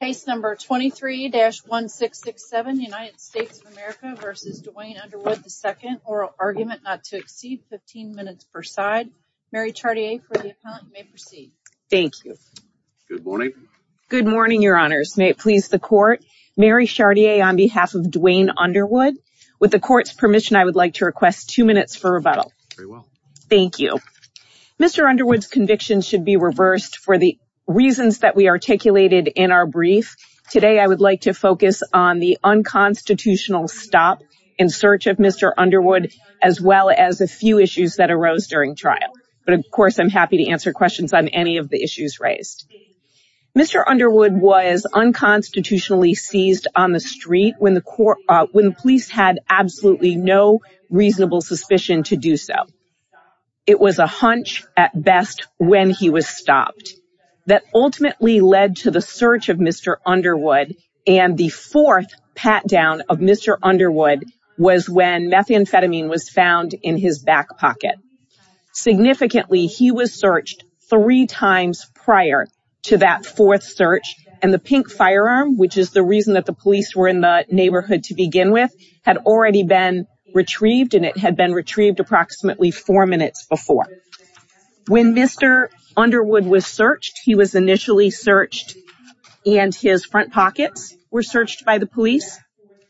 Case number 23-1667, United States of America v. Duane Underwood II, Oral Argument Not to Exceed, 15 minutes per side. Mary Chartier for the appellant, you may proceed. Thank you. Good morning. Good morning, Your Honors. May it please the Court, Mary Chartier on behalf of Duane Underwood. With the Court's permission, I would like to request two minutes for rebuttal. Very well. Thank you. Mr. Underwood's conviction should be reversed for the reasons that we articulated in our brief. Today, I would like to focus on the unconstitutional stop in search of Mr. Underwood, as well as a few issues that arose during trial. But of course, I'm happy to answer questions on any of the issues raised. Mr. Underwood was unconstitutionally seized on the street when the police had absolutely no reasonable suspicion to do so. It was a hunch at best when he was stopped. That ultimately led to the search of Mr. Underwood, and the fourth pat-down of Mr. Underwood was when methamphetamine was found in his back pocket. Significantly, he was searched three times prior to that fourth search, and the pink firearm, which is the reason that the police were in the neighborhood to begin with, had already been retrieved, and it had been retrieved approximately four minutes before. When Mr. Underwood was searched, he was initially searched, and his front pockets were searched by the police.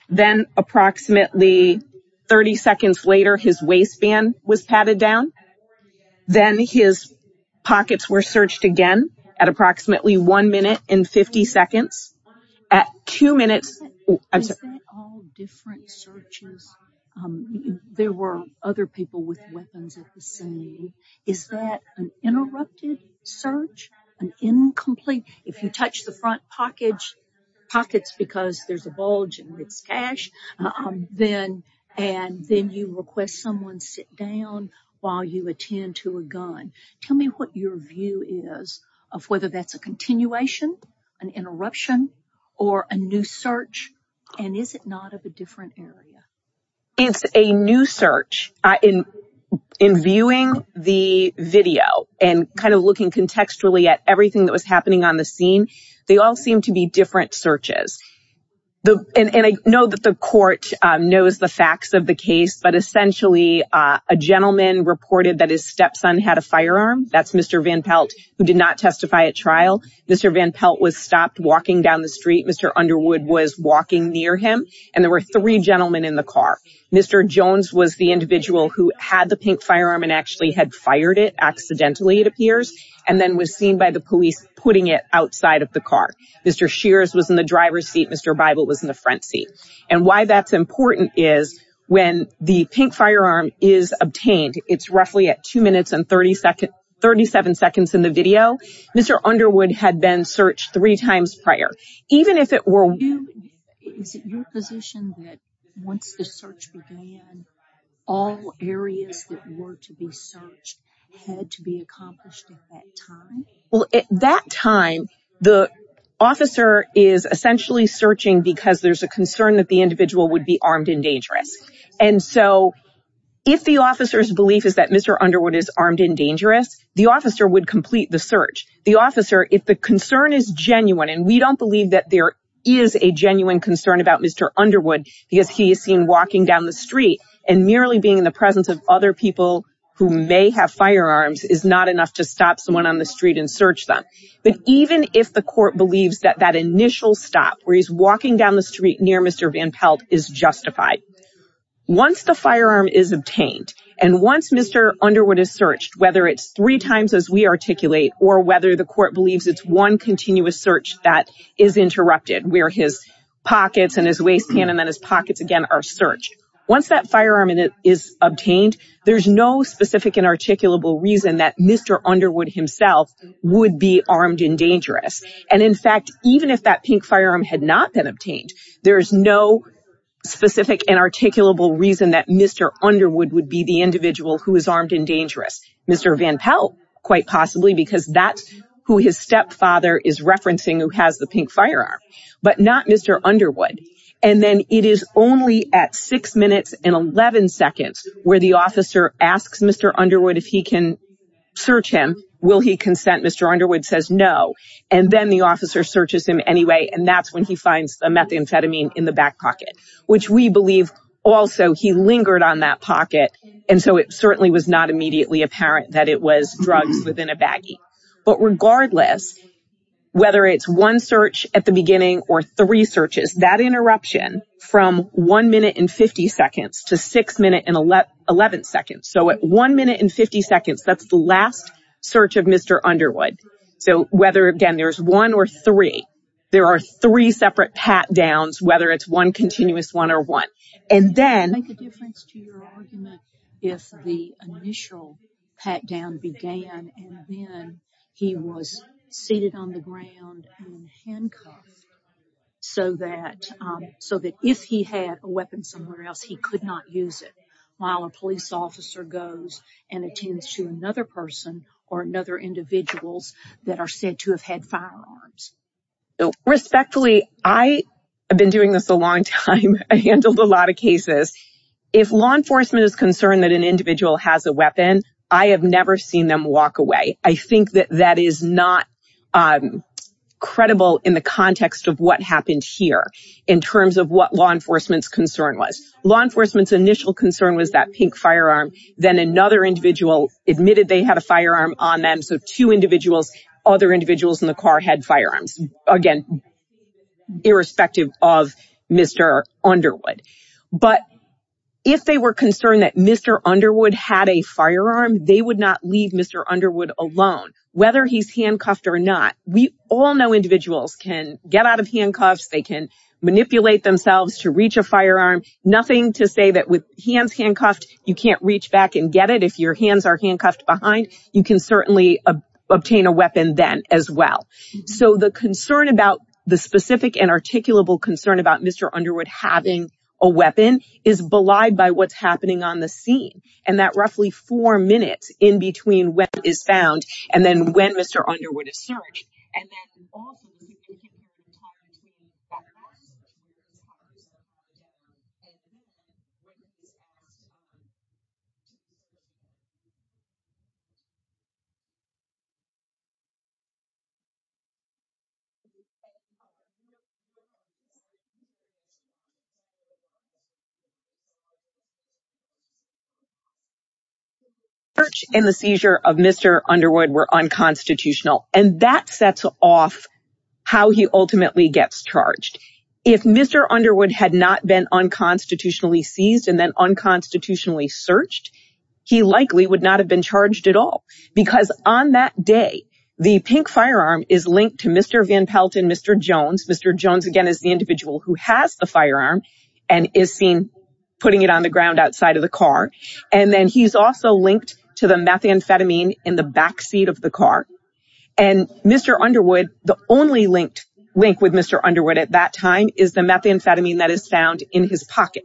Then approximately 30 seconds later, his waistband was patted down. Then his pockets were searched again at approximately one minute and 50 seconds. At two minutes... Is that all different searches? There were other people with weapons at the scene. Is that an interrupted search? An incomplete? If you touch the front pockets because there's a bulge and it's cash, and then you request someone sit down while you attend to a gun, tell me what your view is of whether that's a continuation, an interruption, or a new search, and is it not of a different area? It's a new search. In viewing the video and kind of looking contextually at everything that was know that the court knows the facts of the case, but essentially a gentleman reported that his stepson had a firearm. That's Mr. Van Pelt, who did not testify at trial. Mr. Van Pelt was stopped walking down the street. Mr. Underwood was walking near him, and there were three gentlemen in the car. Mr. Jones was the individual who had the pink firearm and actually had fired it, accidentally it appears, and then was seen by the police putting it outside of the car. Mr. Shears was in the driver's seat. Mr. Bible was in the front seat, and why that's important is when the pink firearm is obtained, it's roughly at two minutes and 37 seconds in the video. Mr. Underwood had been searched three times prior. Even if it were... Is it your position that once the search began, all areas that were to be had to be accomplished at that time? Well, at that time, the officer is essentially searching because there's a concern that the individual would be armed and dangerous, and so if the officer's belief is that Mr. Underwood is armed and dangerous, the officer would complete the search. The officer, if the concern is genuine, and we don't believe that there is a genuine concern about Mr. Underwood because he is seen walking down the street and merely being in the presence of other people who may have firearms, is not enough to stop someone on the street and search them. But even if the court believes that that initial stop where he's walking down the street near Mr. Van Pelt is justified, once the firearm is obtained and once Mr. Underwood is searched, whether it's three times as we articulate or whether the court believes it's one continuous search that is interrupted where his pockets and his waistband and then his pockets again are Once that firearm is obtained, there's no specific and articulable reason that Mr. Underwood himself would be armed and dangerous. And in fact, even if that pink firearm had not been obtained, there's no specific and articulable reason that Mr. Underwood would be the individual who is armed and dangerous. Mr. Van Pelt, quite possibly, because that's who his stepfather is referencing who has the pink firearm, but not Mr. Underwood. And then it is only at six minutes and 11 seconds where the officer asks Mr. Underwood if he can search him. Will he consent? Mr. Underwood says no. And then the officer searches him anyway. And that's when he finds a methamphetamine in the back pocket, which we believe also he lingered on that pocket. And so it certainly was not apparent that it was drugs within a baggie. But regardless, whether it's one search at the beginning or three searches, that interruption from one minute and 50 seconds to six minutes and 11 seconds. So at one minute and 50 seconds, that's the last search of Mr. Underwood. So whether, again, there's one or three, there are three separate pat downs, whether it's one continuous one or one. And then... Make a difference to your argument if the initial pat down began, and then he was seated on the ground in handcuffs so that if he had a weapon somewhere else, he could not use it while a police officer goes and attends to another person or another individuals that are said to have had firearms. Respectfully, I have been doing this a long time. I handled a lot of cases. If law enforcement is concerned that an individual has a weapon, I have never seen them walk away. I think that that is not credible in the context of what happened here in terms of what law enforcement's concern was. Law enforcement's initial concern was that pink so two individuals, other individuals in the car had firearms. Again, irrespective of Mr. Underwood. But if they were concerned that Mr. Underwood had a firearm, they would not leave Mr. Underwood alone, whether he's handcuffed or not. We all know individuals can get out of handcuffs. They can manipulate themselves to reach a firearm. Nothing to say that with hands handcuffed, you can't reach back and get it. If your hands are handcuffed behind, you can certainly obtain a weapon then as well. So the concern about the specific and articulable concern about Mr. Underwood having a weapon is belied by what's happening on the scene. And that roughly four minutes in between when it is found and then when Mr. Underwood is searched. And the seizure of Mr. Underwood were unconstitutional. And that sets off how he ultimately gets charged. If Mr. Underwood had not been unconstitutionally seized and then unconstitutionally searched, he likely would not have been charged at all. Because on that day, the pink firearm is linked to Mr. Van Pelt and Mr. Jones. Mr. Jones again is the individual who has the firearm and is seen putting it on the ground outside of the car. And then he's also linked to the methamphetamine in the backseat of the car. And Mr. Underwood, the only link with Mr. Underwood at that time is the methamphetamine that is found in his pocket.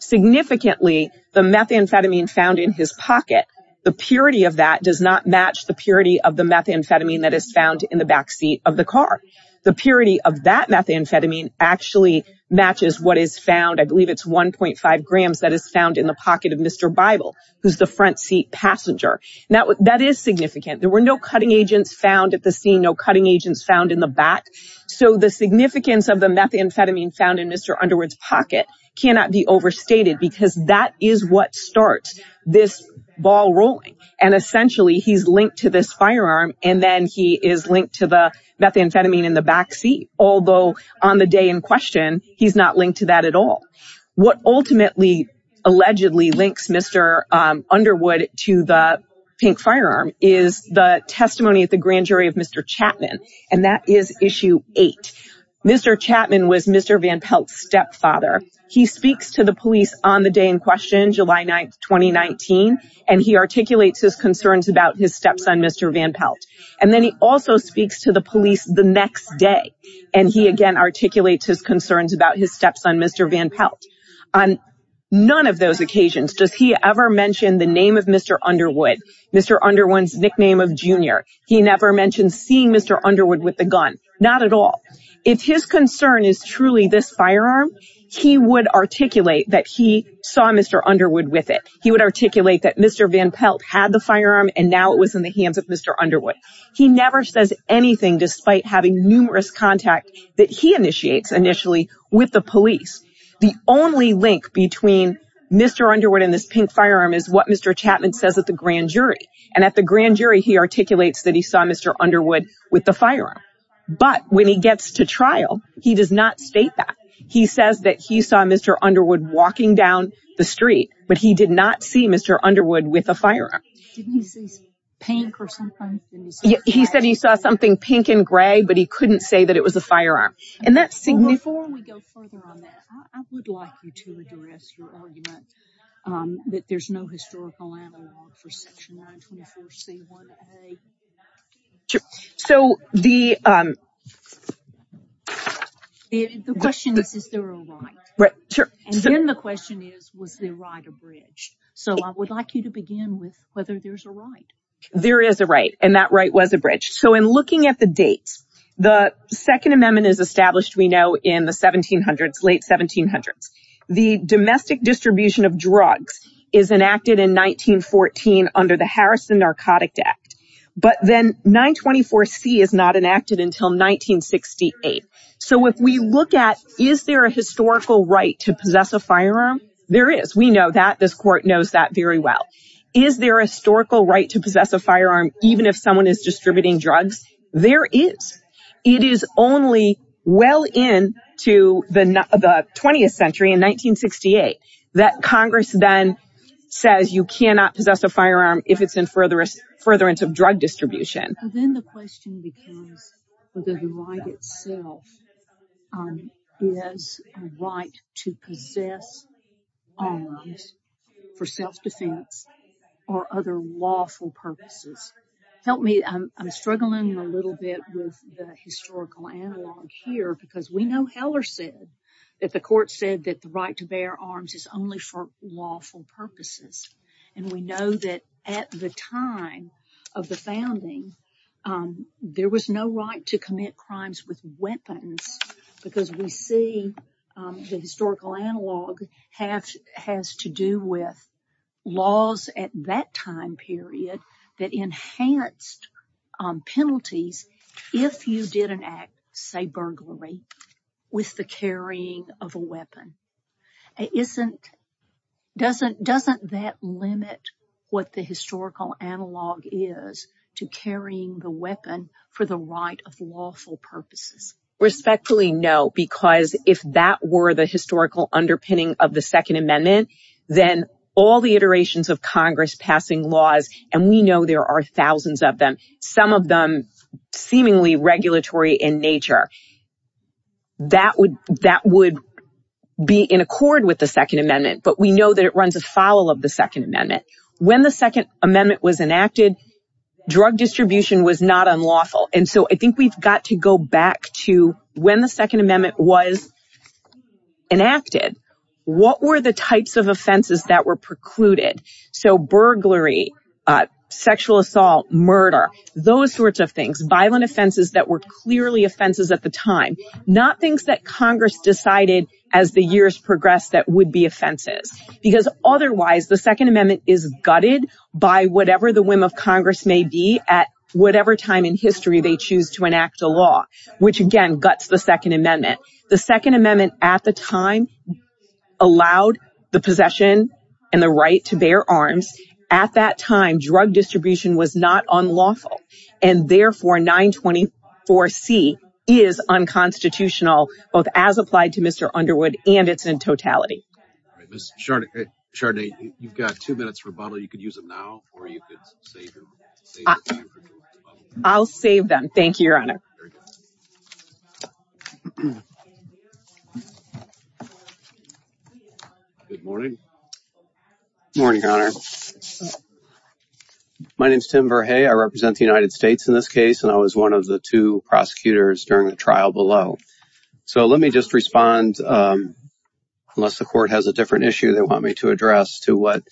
Significantly, the methamphetamine found in his pocket, the purity of that does not match the purity of the methamphetamine that is found in the backseat of the car. The purity of that methamphetamine actually matches what is found. I believe it's 1.5 grams that is found in the pocket of Mr. Bible, who's the front seat passenger. That is significant. There were no cutting agents found at the scene, no cutting agents found in the back. So the significance of the methamphetamine found in Mr. Underwood's pocket cannot be overstated because that is what starts this ball rolling. And essentially, he's linked to this firearm and then he is linked to the methamphetamine in the backseat. Although on the day in question, he's not linked to that at all. What ultimately, allegedly links Mr. Underwood to the pink firearm is the testimony at the grand jury of Mr. Chapman. And that is issue eight. Mr. Chapman was Mr. Van Pelt's stepfather. He speaks to the police on the day in question, July 9th, 2019. And he articulates his concerns about his stepson, Mr. Van Pelt. And then he also speaks to the police the next day. And he again articulates his concerns about his stepson, Mr. Van Pelt. On none of those occasions does he ever mention the name of Mr. Underwood, Mr. Underwood's nickname of Junior. He never mentioned seeing Mr. Underwood with the gun, not at all. If his concern is truly this firearm, he would articulate that he saw Mr. Underwood with it. He would articulate that Mr. Van Pelt had the firearm and now it was in the hands of Mr. Underwood. He never says anything despite having numerous contact that he initiates initially with the police. The only link between Mr. Underwood and this pink firearm is what Mr. Chapman says at the grand jury. And at the grand jury, he articulates that he saw Mr. Underwood with the firearm. But when he gets to trial, he does not state that. He says that he saw Mr. Underwood walking down the street, but he did not see Mr. Underwood with a firearm. He said he saw something pink and gray, but he couldn't say that it was a firearm. And that's significant. Before we go further on that, I would like you to address your argument that there's no historical analog for Section 924C1A. Sure. So the... The question is, is there a right? Right. Sure. And then the question is, was the right abridged? So I would like you to begin with whether there's a right. There is a right, and that right was abridged. So in looking at the dates, the Second Amendment is established, we know, in the 1700s, late 1700s. The domestic distribution of drugs is enacted in 1914 under the Harrison Narcotic Act. But then 924C is not enacted until 1968. So if we look at, is there a historical right to possess a firearm? There is. We know that. This court knows that very well. Is there a historical right to possess a firearm even if someone is distributing drugs? There is. It is only well into the 20th century, in 1968, that Congress then says you cannot possess a firearm if it's in furtherance of drug distribution. Then the question becomes whether the right itself is a right to possess arms for self-defense or other lawful purposes. Help me, I'm struggling a little bit with the historical analog here because we know Heller said that the court said that the right to bear arms is only for lawful purposes. And we know that at the time of the founding, there was no right to commit crimes with weapons because we see the historical analog has to do with laws at that time period that enhanced penalties if you did an act, say burglary, with the carrying of a weapon. Doesn't that limit what the historical analog is to carrying the weapon for the right of lawful purposes? Respectfully, no, because if that were the historical underpinning of the Second Amendment, then all the iterations of Congress passing laws, and we know there are thousands of them, some of them seemingly regulatory in nature, that would be in accord with the Second Amendment. But we know that it runs afoul of the Second Amendment. When the Second Amendment was enacted, drug distribution was not unlawful. And so I think we've got to go back to when the Second Amendment was enacted, what were the types of offenses that were precluded? So burglary, sexual assault, murder, those sorts of things, violent offenses that were clearly offenses at the time, not things that Congress decided as the years progressed that would be offenses. Because otherwise, the Second Amendment is gutted by whatever the whim of Congress may be at whatever time in history they choose to enact a law, which again guts the Second Amendment. The Second Amendment at the time allowed the possession and the right to bear arms. At that time, drug distribution was not unlawful. And therefore, 924C is unconstitutional, both as applied to Mr. Underwood, and it's in totality. Chardonnay, you've got two minutes for a bottle. You could use them now, or you could save them. I'll save them. Thank you, Your Honor. Good morning. Good morning, Your Honor. My name is Tim Verhey. I represent the United States in this case, and I was one of the two prosecutors during the trial below. So let me just respond, unless the court has a different issue they want me to address, to what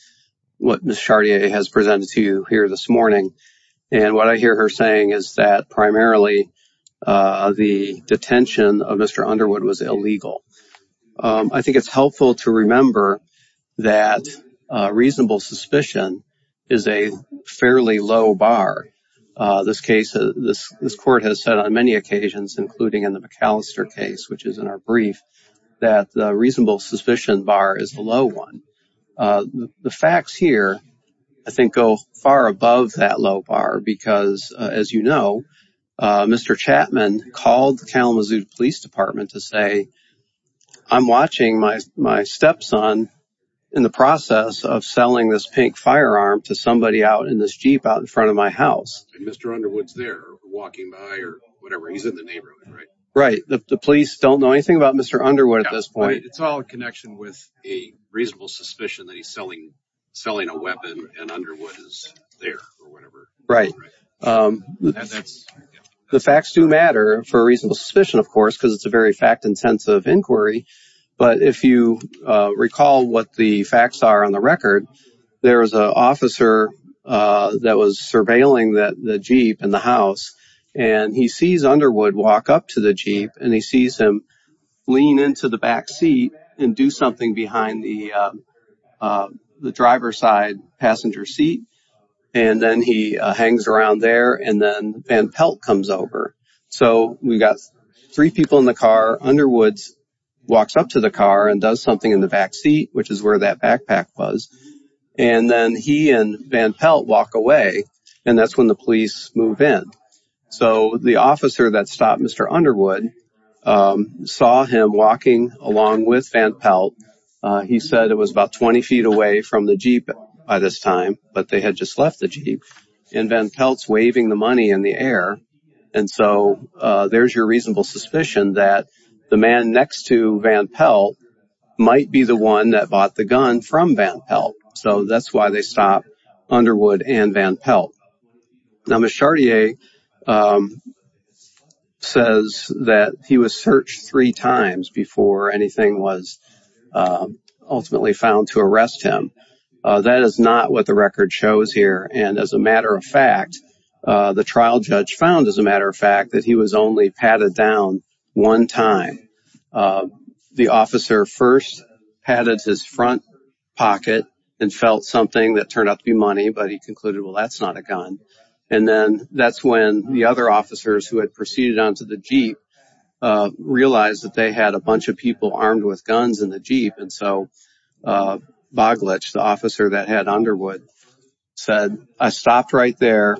Ms. Chardonnay has presented to you here this morning. And what I hear her saying is that primarily the detention of Mr. Underwood was illegal. I think it's helpful to remember that reasonable suspicion is a fairly low bar. This case, this court has said on many occasions, including in the McAllister case, which is in our brief, that the reasonable suspicion bar is the low one. The facts here, I think, go far above that low bar because, as you know, Mr. Chapman called the Kalamazoo Police Department to say, I'm watching my stepson in the process of selling this pink firearm to somebody out in this Jeep out in front of my house. And Mr. Underwood's there, walking by, or whatever. He's in the neighborhood, right? Right. The police don't know anything about Mr. Underwood at this point. It's all a connection with a reasonable suspicion that he's selling a weapon, and Underwood is there, or whatever. Right. The facts do matter for a reasonable suspicion, of course, because it's a very fact-intensive inquiry. But if you recall what the facts are on the record, there was an officer that was surveilling the Jeep in the house, and he sees Underwood walk up to the Jeep, and he sees him lean into the back seat and do something behind the driver's side passenger seat. And then he hangs around there, and then Van Pelt comes over. So we've got three people in the car. Underwood walks up to the car and does something in the back seat, which is where that backpack was. And then he and Van Pelt walk away, and that's when the police move in. So the officer that stopped Mr. Underwood saw him walking along with Van Pelt. He said it was about 20 feet away from the Jeep by this time, but they had just left the Jeep. And Van Pelt's waving the money in the air. And so there's your reasonable suspicion that the man next to Van Pelt might be the one that bought the gun from Van Pelt. So that's why they stopped Underwood and Van Pelt. Now, Ms. Chartier says that he was searched three times before anything was ultimately found to arrest him. That is not what the record shows here. And as a matter of fact, the trial judge found, as a matter of fact, that he was only patted down one time. The officer first patted his front pocket and felt something that turned out to be money, but he concluded, well, that's not a gun. And then that's when the other officers who had proceeded onto the Jeep realized that they had a bunch of people armed with guns in the Jeep. And so Boglich, the officer that had Underwood, said, I stopped right there.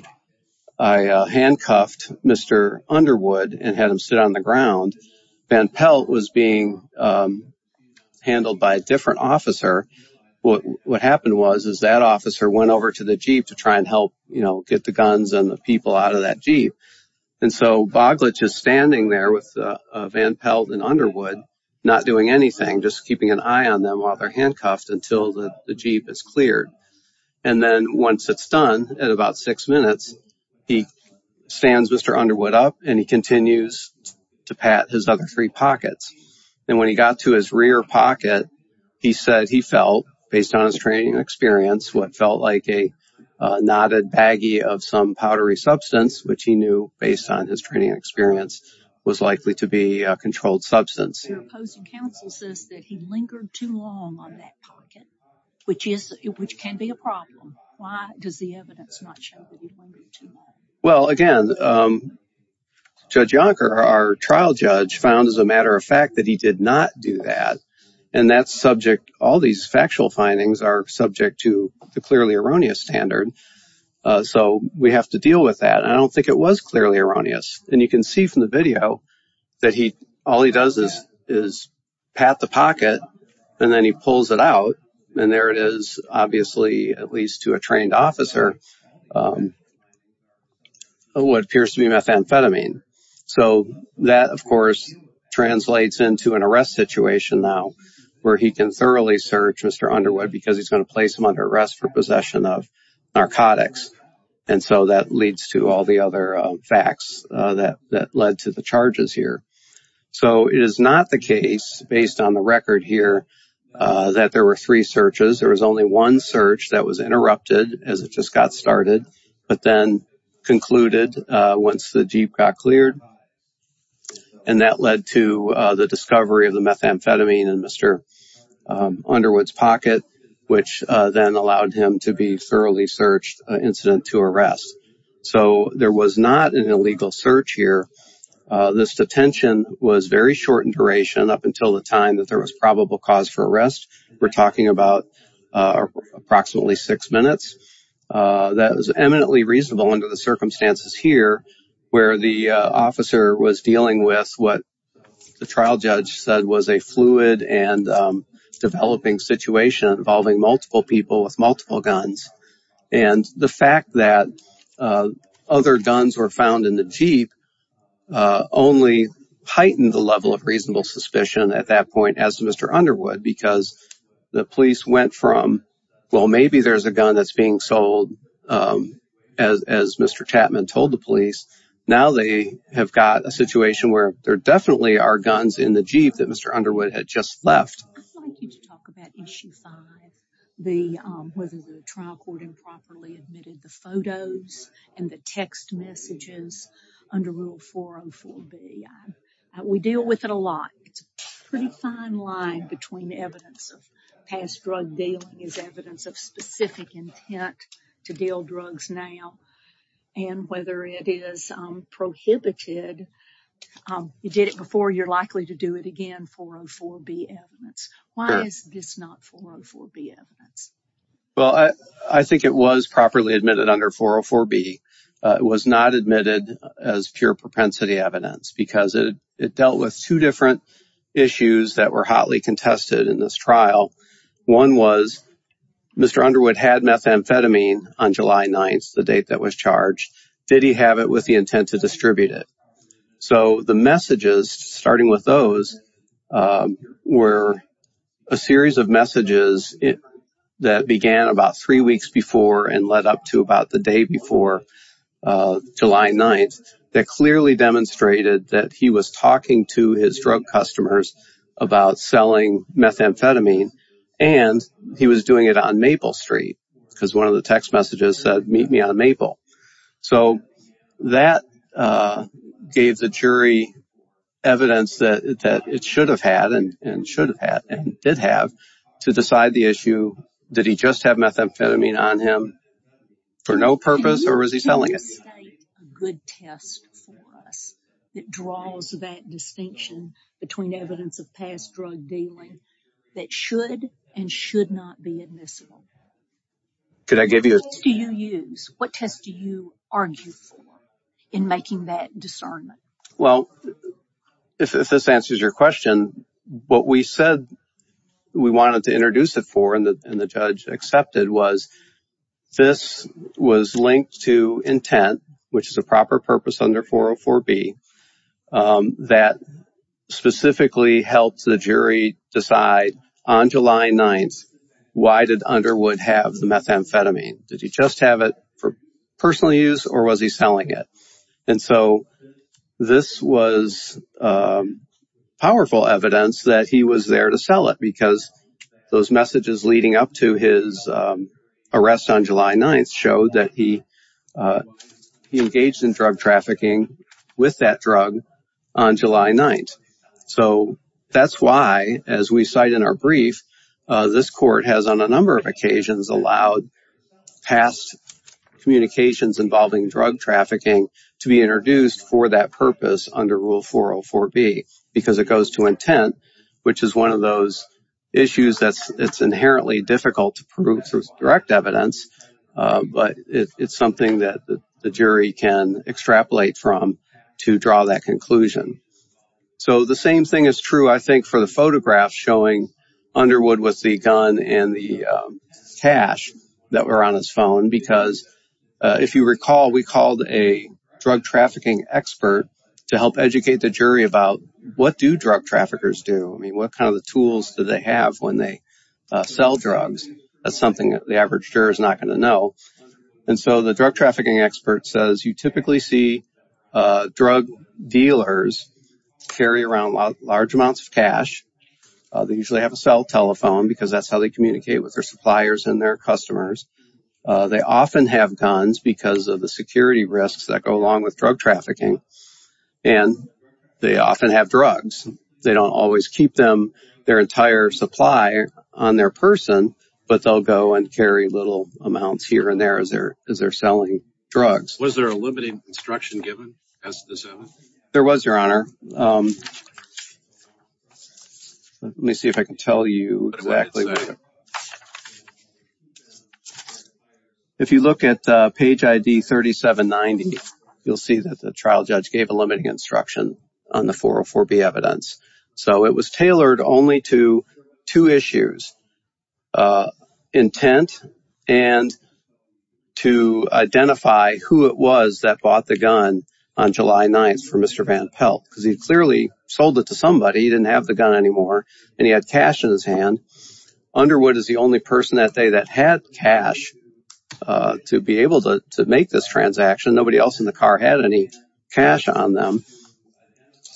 I handcuffed Mr. Underwood and had him sit on the ground. Van Pelt was being handled by a different officer. What happened was, is that officer went over to the Jeep to try and help, you know, get the guns and the people out of that Jeep. And so Boglich is standing there with Van Pelt and Underwood, not doing anything, just keeping an eye on them while they're handcuffed until the Jeep is cleared. And then once it's done, at about six minutes, he stands Mr. Underwood up and he continues to pat his other three pockets. And when he got to his rear pocket, he said he felt, based on his training experience, what felt like a knotted baggie of some powdery substance, which he knew, based on his training experience, was likely to be a controlled substance. Your opposing counsel says that he lingered too long on that pocket, which can be a problem. Why does the evidence not show that he lingered too long? Well, again, Judge Yonker, our trial judge, found as a matter of fact that he did not do that. And that's subject, all these factual findings are subject to the clearly erroneous standard. So we have to deal with that. I don't think it was clearly erroneous. And you can see from the video that he, all he does is pat the pocket and then he pulls it out. And there it is, obviously, at least to a trained officer, what appears to be methamphetamine. So that, of course, translates into an arrest situation now where he can thoroughly search Mr. Underwood because he's going to place him under arrest for possession of narcotics. And so that leads to all the other facts that led to the charges here. So it is not the case, based on the record here, that there were three searches. There was only one search that was interrupted as it just got started, but then concluded once the Jeep got cleared. And that led to the discovery of the methamphetamine in Mr. Underwood's pocket, which then allowed him to be thoroughly searched incident to arrest. So there was not an illegal search here. This detention was very short in duration up until the time that there was probable cause for arrest. We're talking about approximately six minutes. That was eminently reasonable under the circumstances here where the officer was dealing with what the trial judge said was a fluid and developing situation involving multiple people with multiple guns. And the fact that other guns were found in the Jeep only heightened the level reasonable suspicion at that point as to Mr. Underwood because the police went from, well, maybe there's a gun that's being sold, as Mr. Chapman told the police. Now they have got a situation where there definitely are guns in the Jeep that Mr. Underwood had just left. I'd like you to talk about issue five, whether the trial court improperly admitted the photos and the text messages under rule 404B. We deal with it a lot. It's a pretty fine line between evidence of past drug dealing as evidence of specific intent to deal drugs now and whether it is prohibited. You did it before, you're likely to do it again, 404B evidence. Why is this not 404B evidence? Well, I think it was properly admitted under 404B. It was not admitted as pure propensity evidence because it dealt with two different issues that were hotly contested in this trial. One was Mr. Underwood had methamphetamine on July 9th, the date that was charged. Did he have it with the intent to distribute it? So the messages starting with those were a series of messages that began about three weeks before and led up to about the day before July 9th that clearly demonstrated that he was talking to his drug customers about selling methamphetamine and he was doing it on Maple Street because one of the text messages said meet me on Maple. So that gave the jury evidence that it should have had and should have had and did have to decide the issue. Did he just have methamphetamine on him for no purpose or was he selling it? A good test for us that draws that distinction between evidence of past drug dealing that should and should not be admissible. What test do you use? What test do you argue for in making that discernment? Well, if this answers your question, what we said we wanted to introduce it for and the judge accepted was this was linked to intent, which is a proper purpose under 404B that specifically helped the jury decide on July 9th why did Underwood have the methamphetamine? Did he just have it for personal use or was he selling it? And so this was powerful evidence that he was there to sell it because those messages leading up to his arrest on July 9th showed that he engaged in drug trafficking with that drug on July 9th. So that's why, as we cite in our brief, this court has on a number of occasions allowed past communications involving drug trafficking to be introduced for that purpose under Rule 404B because it goes to intent, which is one of those issues that's inherently difficult to prove through direct evidence, but it's something that the jury can extrapolate from to draw that conclusion. So the same thing is true, I think, for the photographs showing Underwood with the gun and the cash that were on his phone because if you recall, we called a drug trafficking expert to help educate the jury about what do drug trafficking tools do they have when they sell drugs. That's something that the average juror is not going to know. And so the drug trafficking expert says you typically see drug dealers carry around large amounts of cash. They usually have a cell telephone because that's how they communicate with their suppliers and their customers. They often have guns because of the security risks that go along with drug trafficking. And they often have drugs. They don't always keep them, their entire supply on their person, but they'll go and carry little amounts here and there as they're selling drugs. Was there a limited instruction given as to this? There was, Your Honor. Let me see if I can tell you exactly. There you go. If you look at page ID 3790, you'll see that the trial judge gave a limiting instruction on the 404B evidence. So it was tailored only to two issues, intent and to identify who it was that bought the gun on July 9th for Mr. Van Pelt because he clearly sold it to somebody. He didn't have the gun anymore and he had cash in his hand. Underwood is the only person that day that had cash to be able to make this transaction. Nobody else in the car had any cash on them.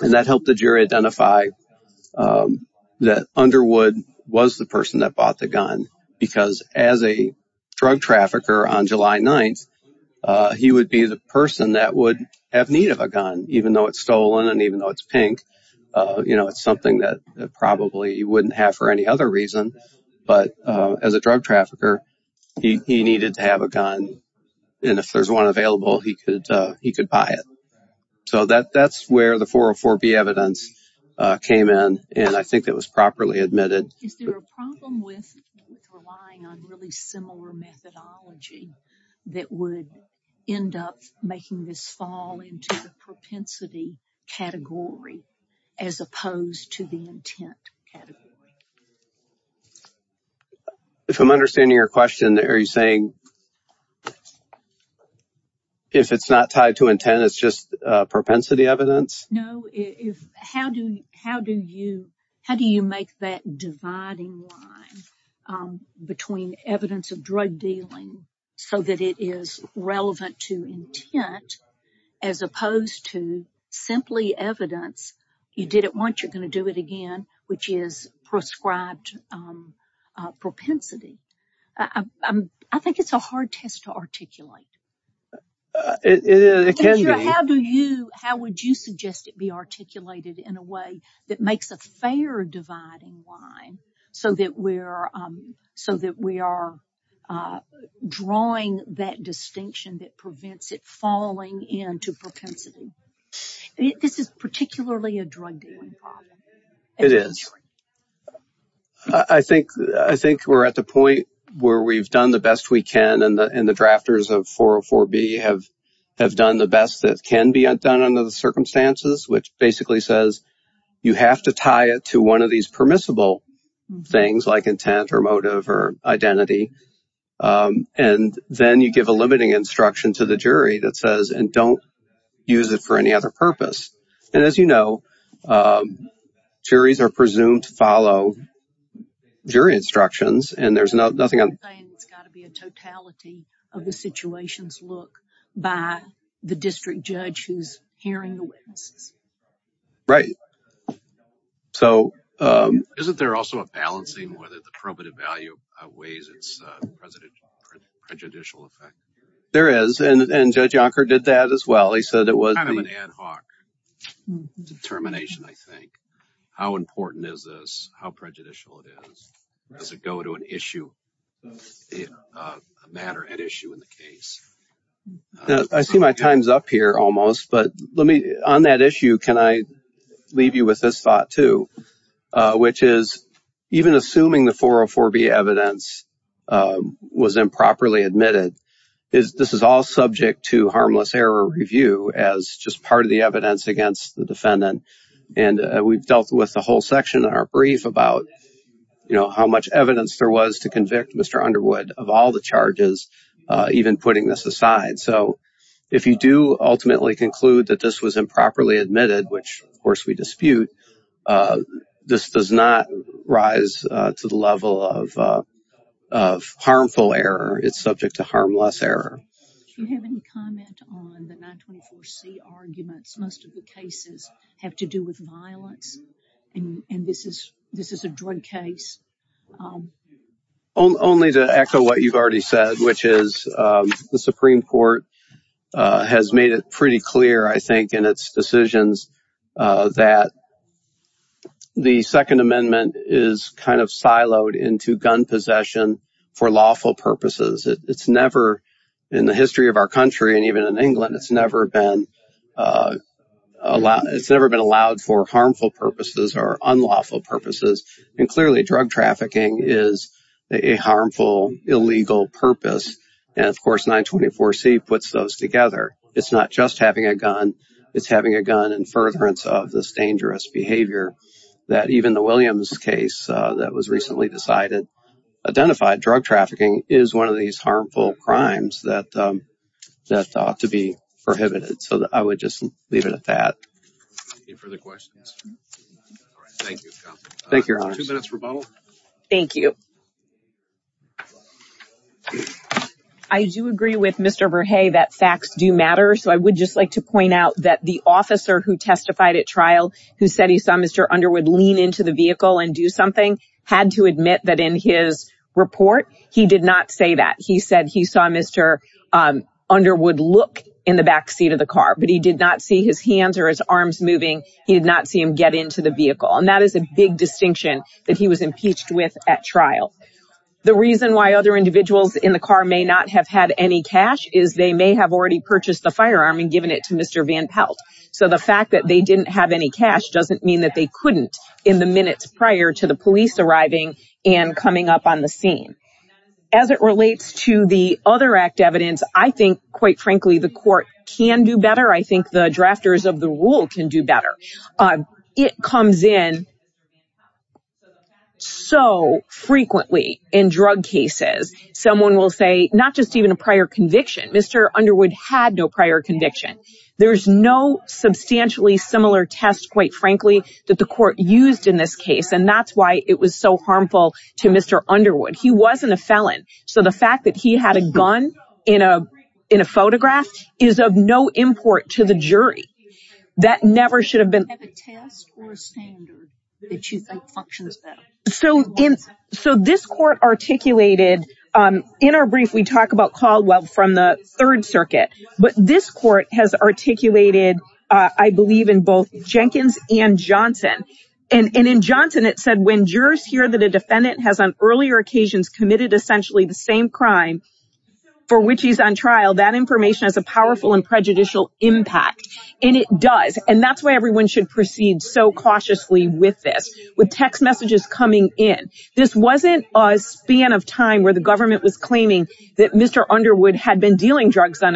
And that helped the jury identify that Underwood was the person that bought the gun because as a drug trafficker on July 9th, he would be the person that would have need of a gun even though it's stolen and even though it's you know, it's something that probably you wouldn't have for any other reason. But as a drug trafficker, he needed to have a gun and if there's one available, he could buy it. So that's where the 404B evidence came in and I think that was properly admitted. Is there a problem with relying on really similar methodology that would end up making this fall into the propensity category as opposed to the intent category? If I'm understanding your question, are you saying if it's not tied to intent, it's just propensity evidence? No. How do you make that dividing line between evidence of drug dealing so that it is relevant to intent as opposed to simply evidence, you did it once, you're going to do it again, which is prescribed propensity? I think it's a hard test to articulate. How would you suggest it be articulated in a way that makes a fair dividing line so that we are drawing that distinction that prevents it falling into propensity? This is particularly a drug dealing problem. It is. I think we're at the point where we've done the best we can and the drafters of 404B have done the best that can be done under the circumstances, which basically says you have to tie it to one of these permissible things like intent or motive or identity, and then you give a limiting instruction to the jury that says, and don't use it for any other purpose. And as you know, juries are presumed to follow jury instructions and there's nothing... You're saying it's got to be a totality of the situation's look by the district judge who's hearing the witnesses. Right. Isn't there also a balancing whether the probative value weighs its prejudicial effect? There is, and Judge Yonker did that as well. He said it was... Kind of an ad hoc determination, I think. How important is this? How prejudicial it is? Does it go to an issue, a matter at issue in the case? Now, I see my time's up here almost, but let me... On that issue, can I leave you with this thought too, which is even assuming the 404B evidence was improperly admitted, this is all subject to harmless error review as just part of the evidence against the defendant. And we've dealt with the whole section in our brief about how much evidence there was to convict Mr. Underwood of all the even putting this aside. So if you do ultimately conclude that this was improperly admitted, which of course we dispute, this does not rise to the level of harmful error. It's subject to harmless error. Do you have any comment on the 924C arguments? Most of the cases have to do with violence and this is a drug case. Oh, only to echo what you've already said, which is the Supreme Court has made it pretty clear, I think, in its decisions that the Second Amendment is kind of siloed into gun possession for lawful purposes. It's never... In the history of our country and even in England, it's never been... It's never been allowed for harmful purposes or unlawful purposes. And clearly, drug trafficking is a harmful, illegal purpose. And of course, 924C puts those together. It's not just having a gun, it's having a gun in furtherance of this dangerous behavior that even the Williams case that was recently decided, identified drug trafficking is one of these harmful crimes that ought to be prohibited. So, I would just leave it at that. Any further questions? All right. Thank you, counsel. Thank you, your honor. Two minutes rebuttal. Thank you. I do agree with Mr. Verhey that facts do matter. So, I would just like to point out that the officer who testified at trial, who said he saw Mr. Underwood lean into the vehicle and do something, had to admit that in his report, he did not say that. He said he saw Mr. Underwood look in the backseat of the car, but he did not see his hands or his arms moving. He did not see him get into the vehicle. And that is a big distinction that he was impeached with at trial. The reason why other individuals in the car may not have had any cash is they may have already purchased the firearm and given it to Mr. Van Pelt. So, the fact that they didn't have any cash doesn't mean that they couldn't in the minutes prior to the police arriving and coming up on the scene. As it relates to the other act evidence, I think, quite frankly, the court can do better. I think the drafters of the rule can do better. It comes in so frequently in drug cases. Someone will say, not just even a prior conviction, Mr. Underwood had no prior conviction. There's no substantially similar test, quite frankly, that the court used in this case. And that's why it was so harmful to Mr. Underwood. He wasn't a felon. So, the fact that he had a gun in a photograph is of no import to the jury. That never should have been... So, this court articulated, in our brief, we talk about Caldwell from the Third Circuit. But this court has articulated, I believe, in both Jenkins and Johnson. And in Johnson, it said, when jurors hear that a defendant has on earlier occasions committed essentially the same crime for which he's on trial, that information has a powerful and prejudicial impact. And it does. And that's why everyone should proceed so cautiously with this, with text on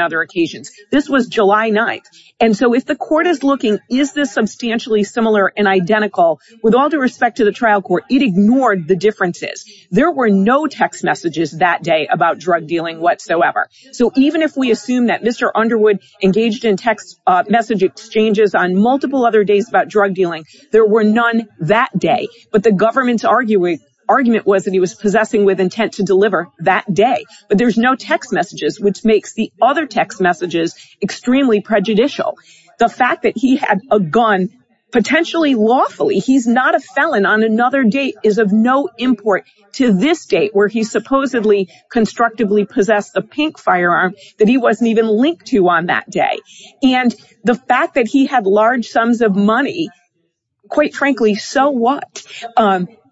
other occasions. This was July 9th. And so, if the court is looking, is this substantially similar and identical, with all due respect to the trial court, it ignored the differences. There were no text messages that day about drug dealing whatsoever. So, even if we assume that Mr. Underwood engaged in text message exchanges on multiple other days about drug dealing, there were none that day. But the government's argument was that he was possessing with intent to deliver that day. But there's no text messages, which makes the other text messages extremely prejudicial. The fact that he had a gun, potentially lawfully, he's not a felon on another date is of no import to this date, where he supposedly constructively possessed the pink firearm that he wasn't even linked to on that day. And the fact that he had large sums of money, quite frankly, so what?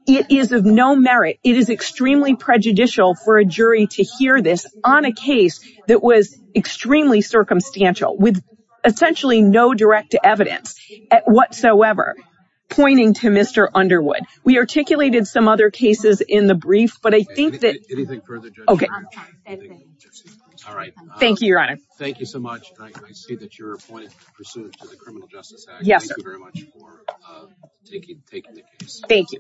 It is of no merit. It is extremely prejudicial for a jury to hear this on a case that was extremely circumstantial, with essentially no direct evidence whatsoever, pointing to Mr. Underwood. We articulated some other cases in the brief, but I think that... Anything further, Judge? Okay. All right. Thank you, Your Honor. Thank you so much. I see that you're appointed pursuant to the Criminal Justice Act. Yes, sir. Thank you very much for taking the case. Thank you.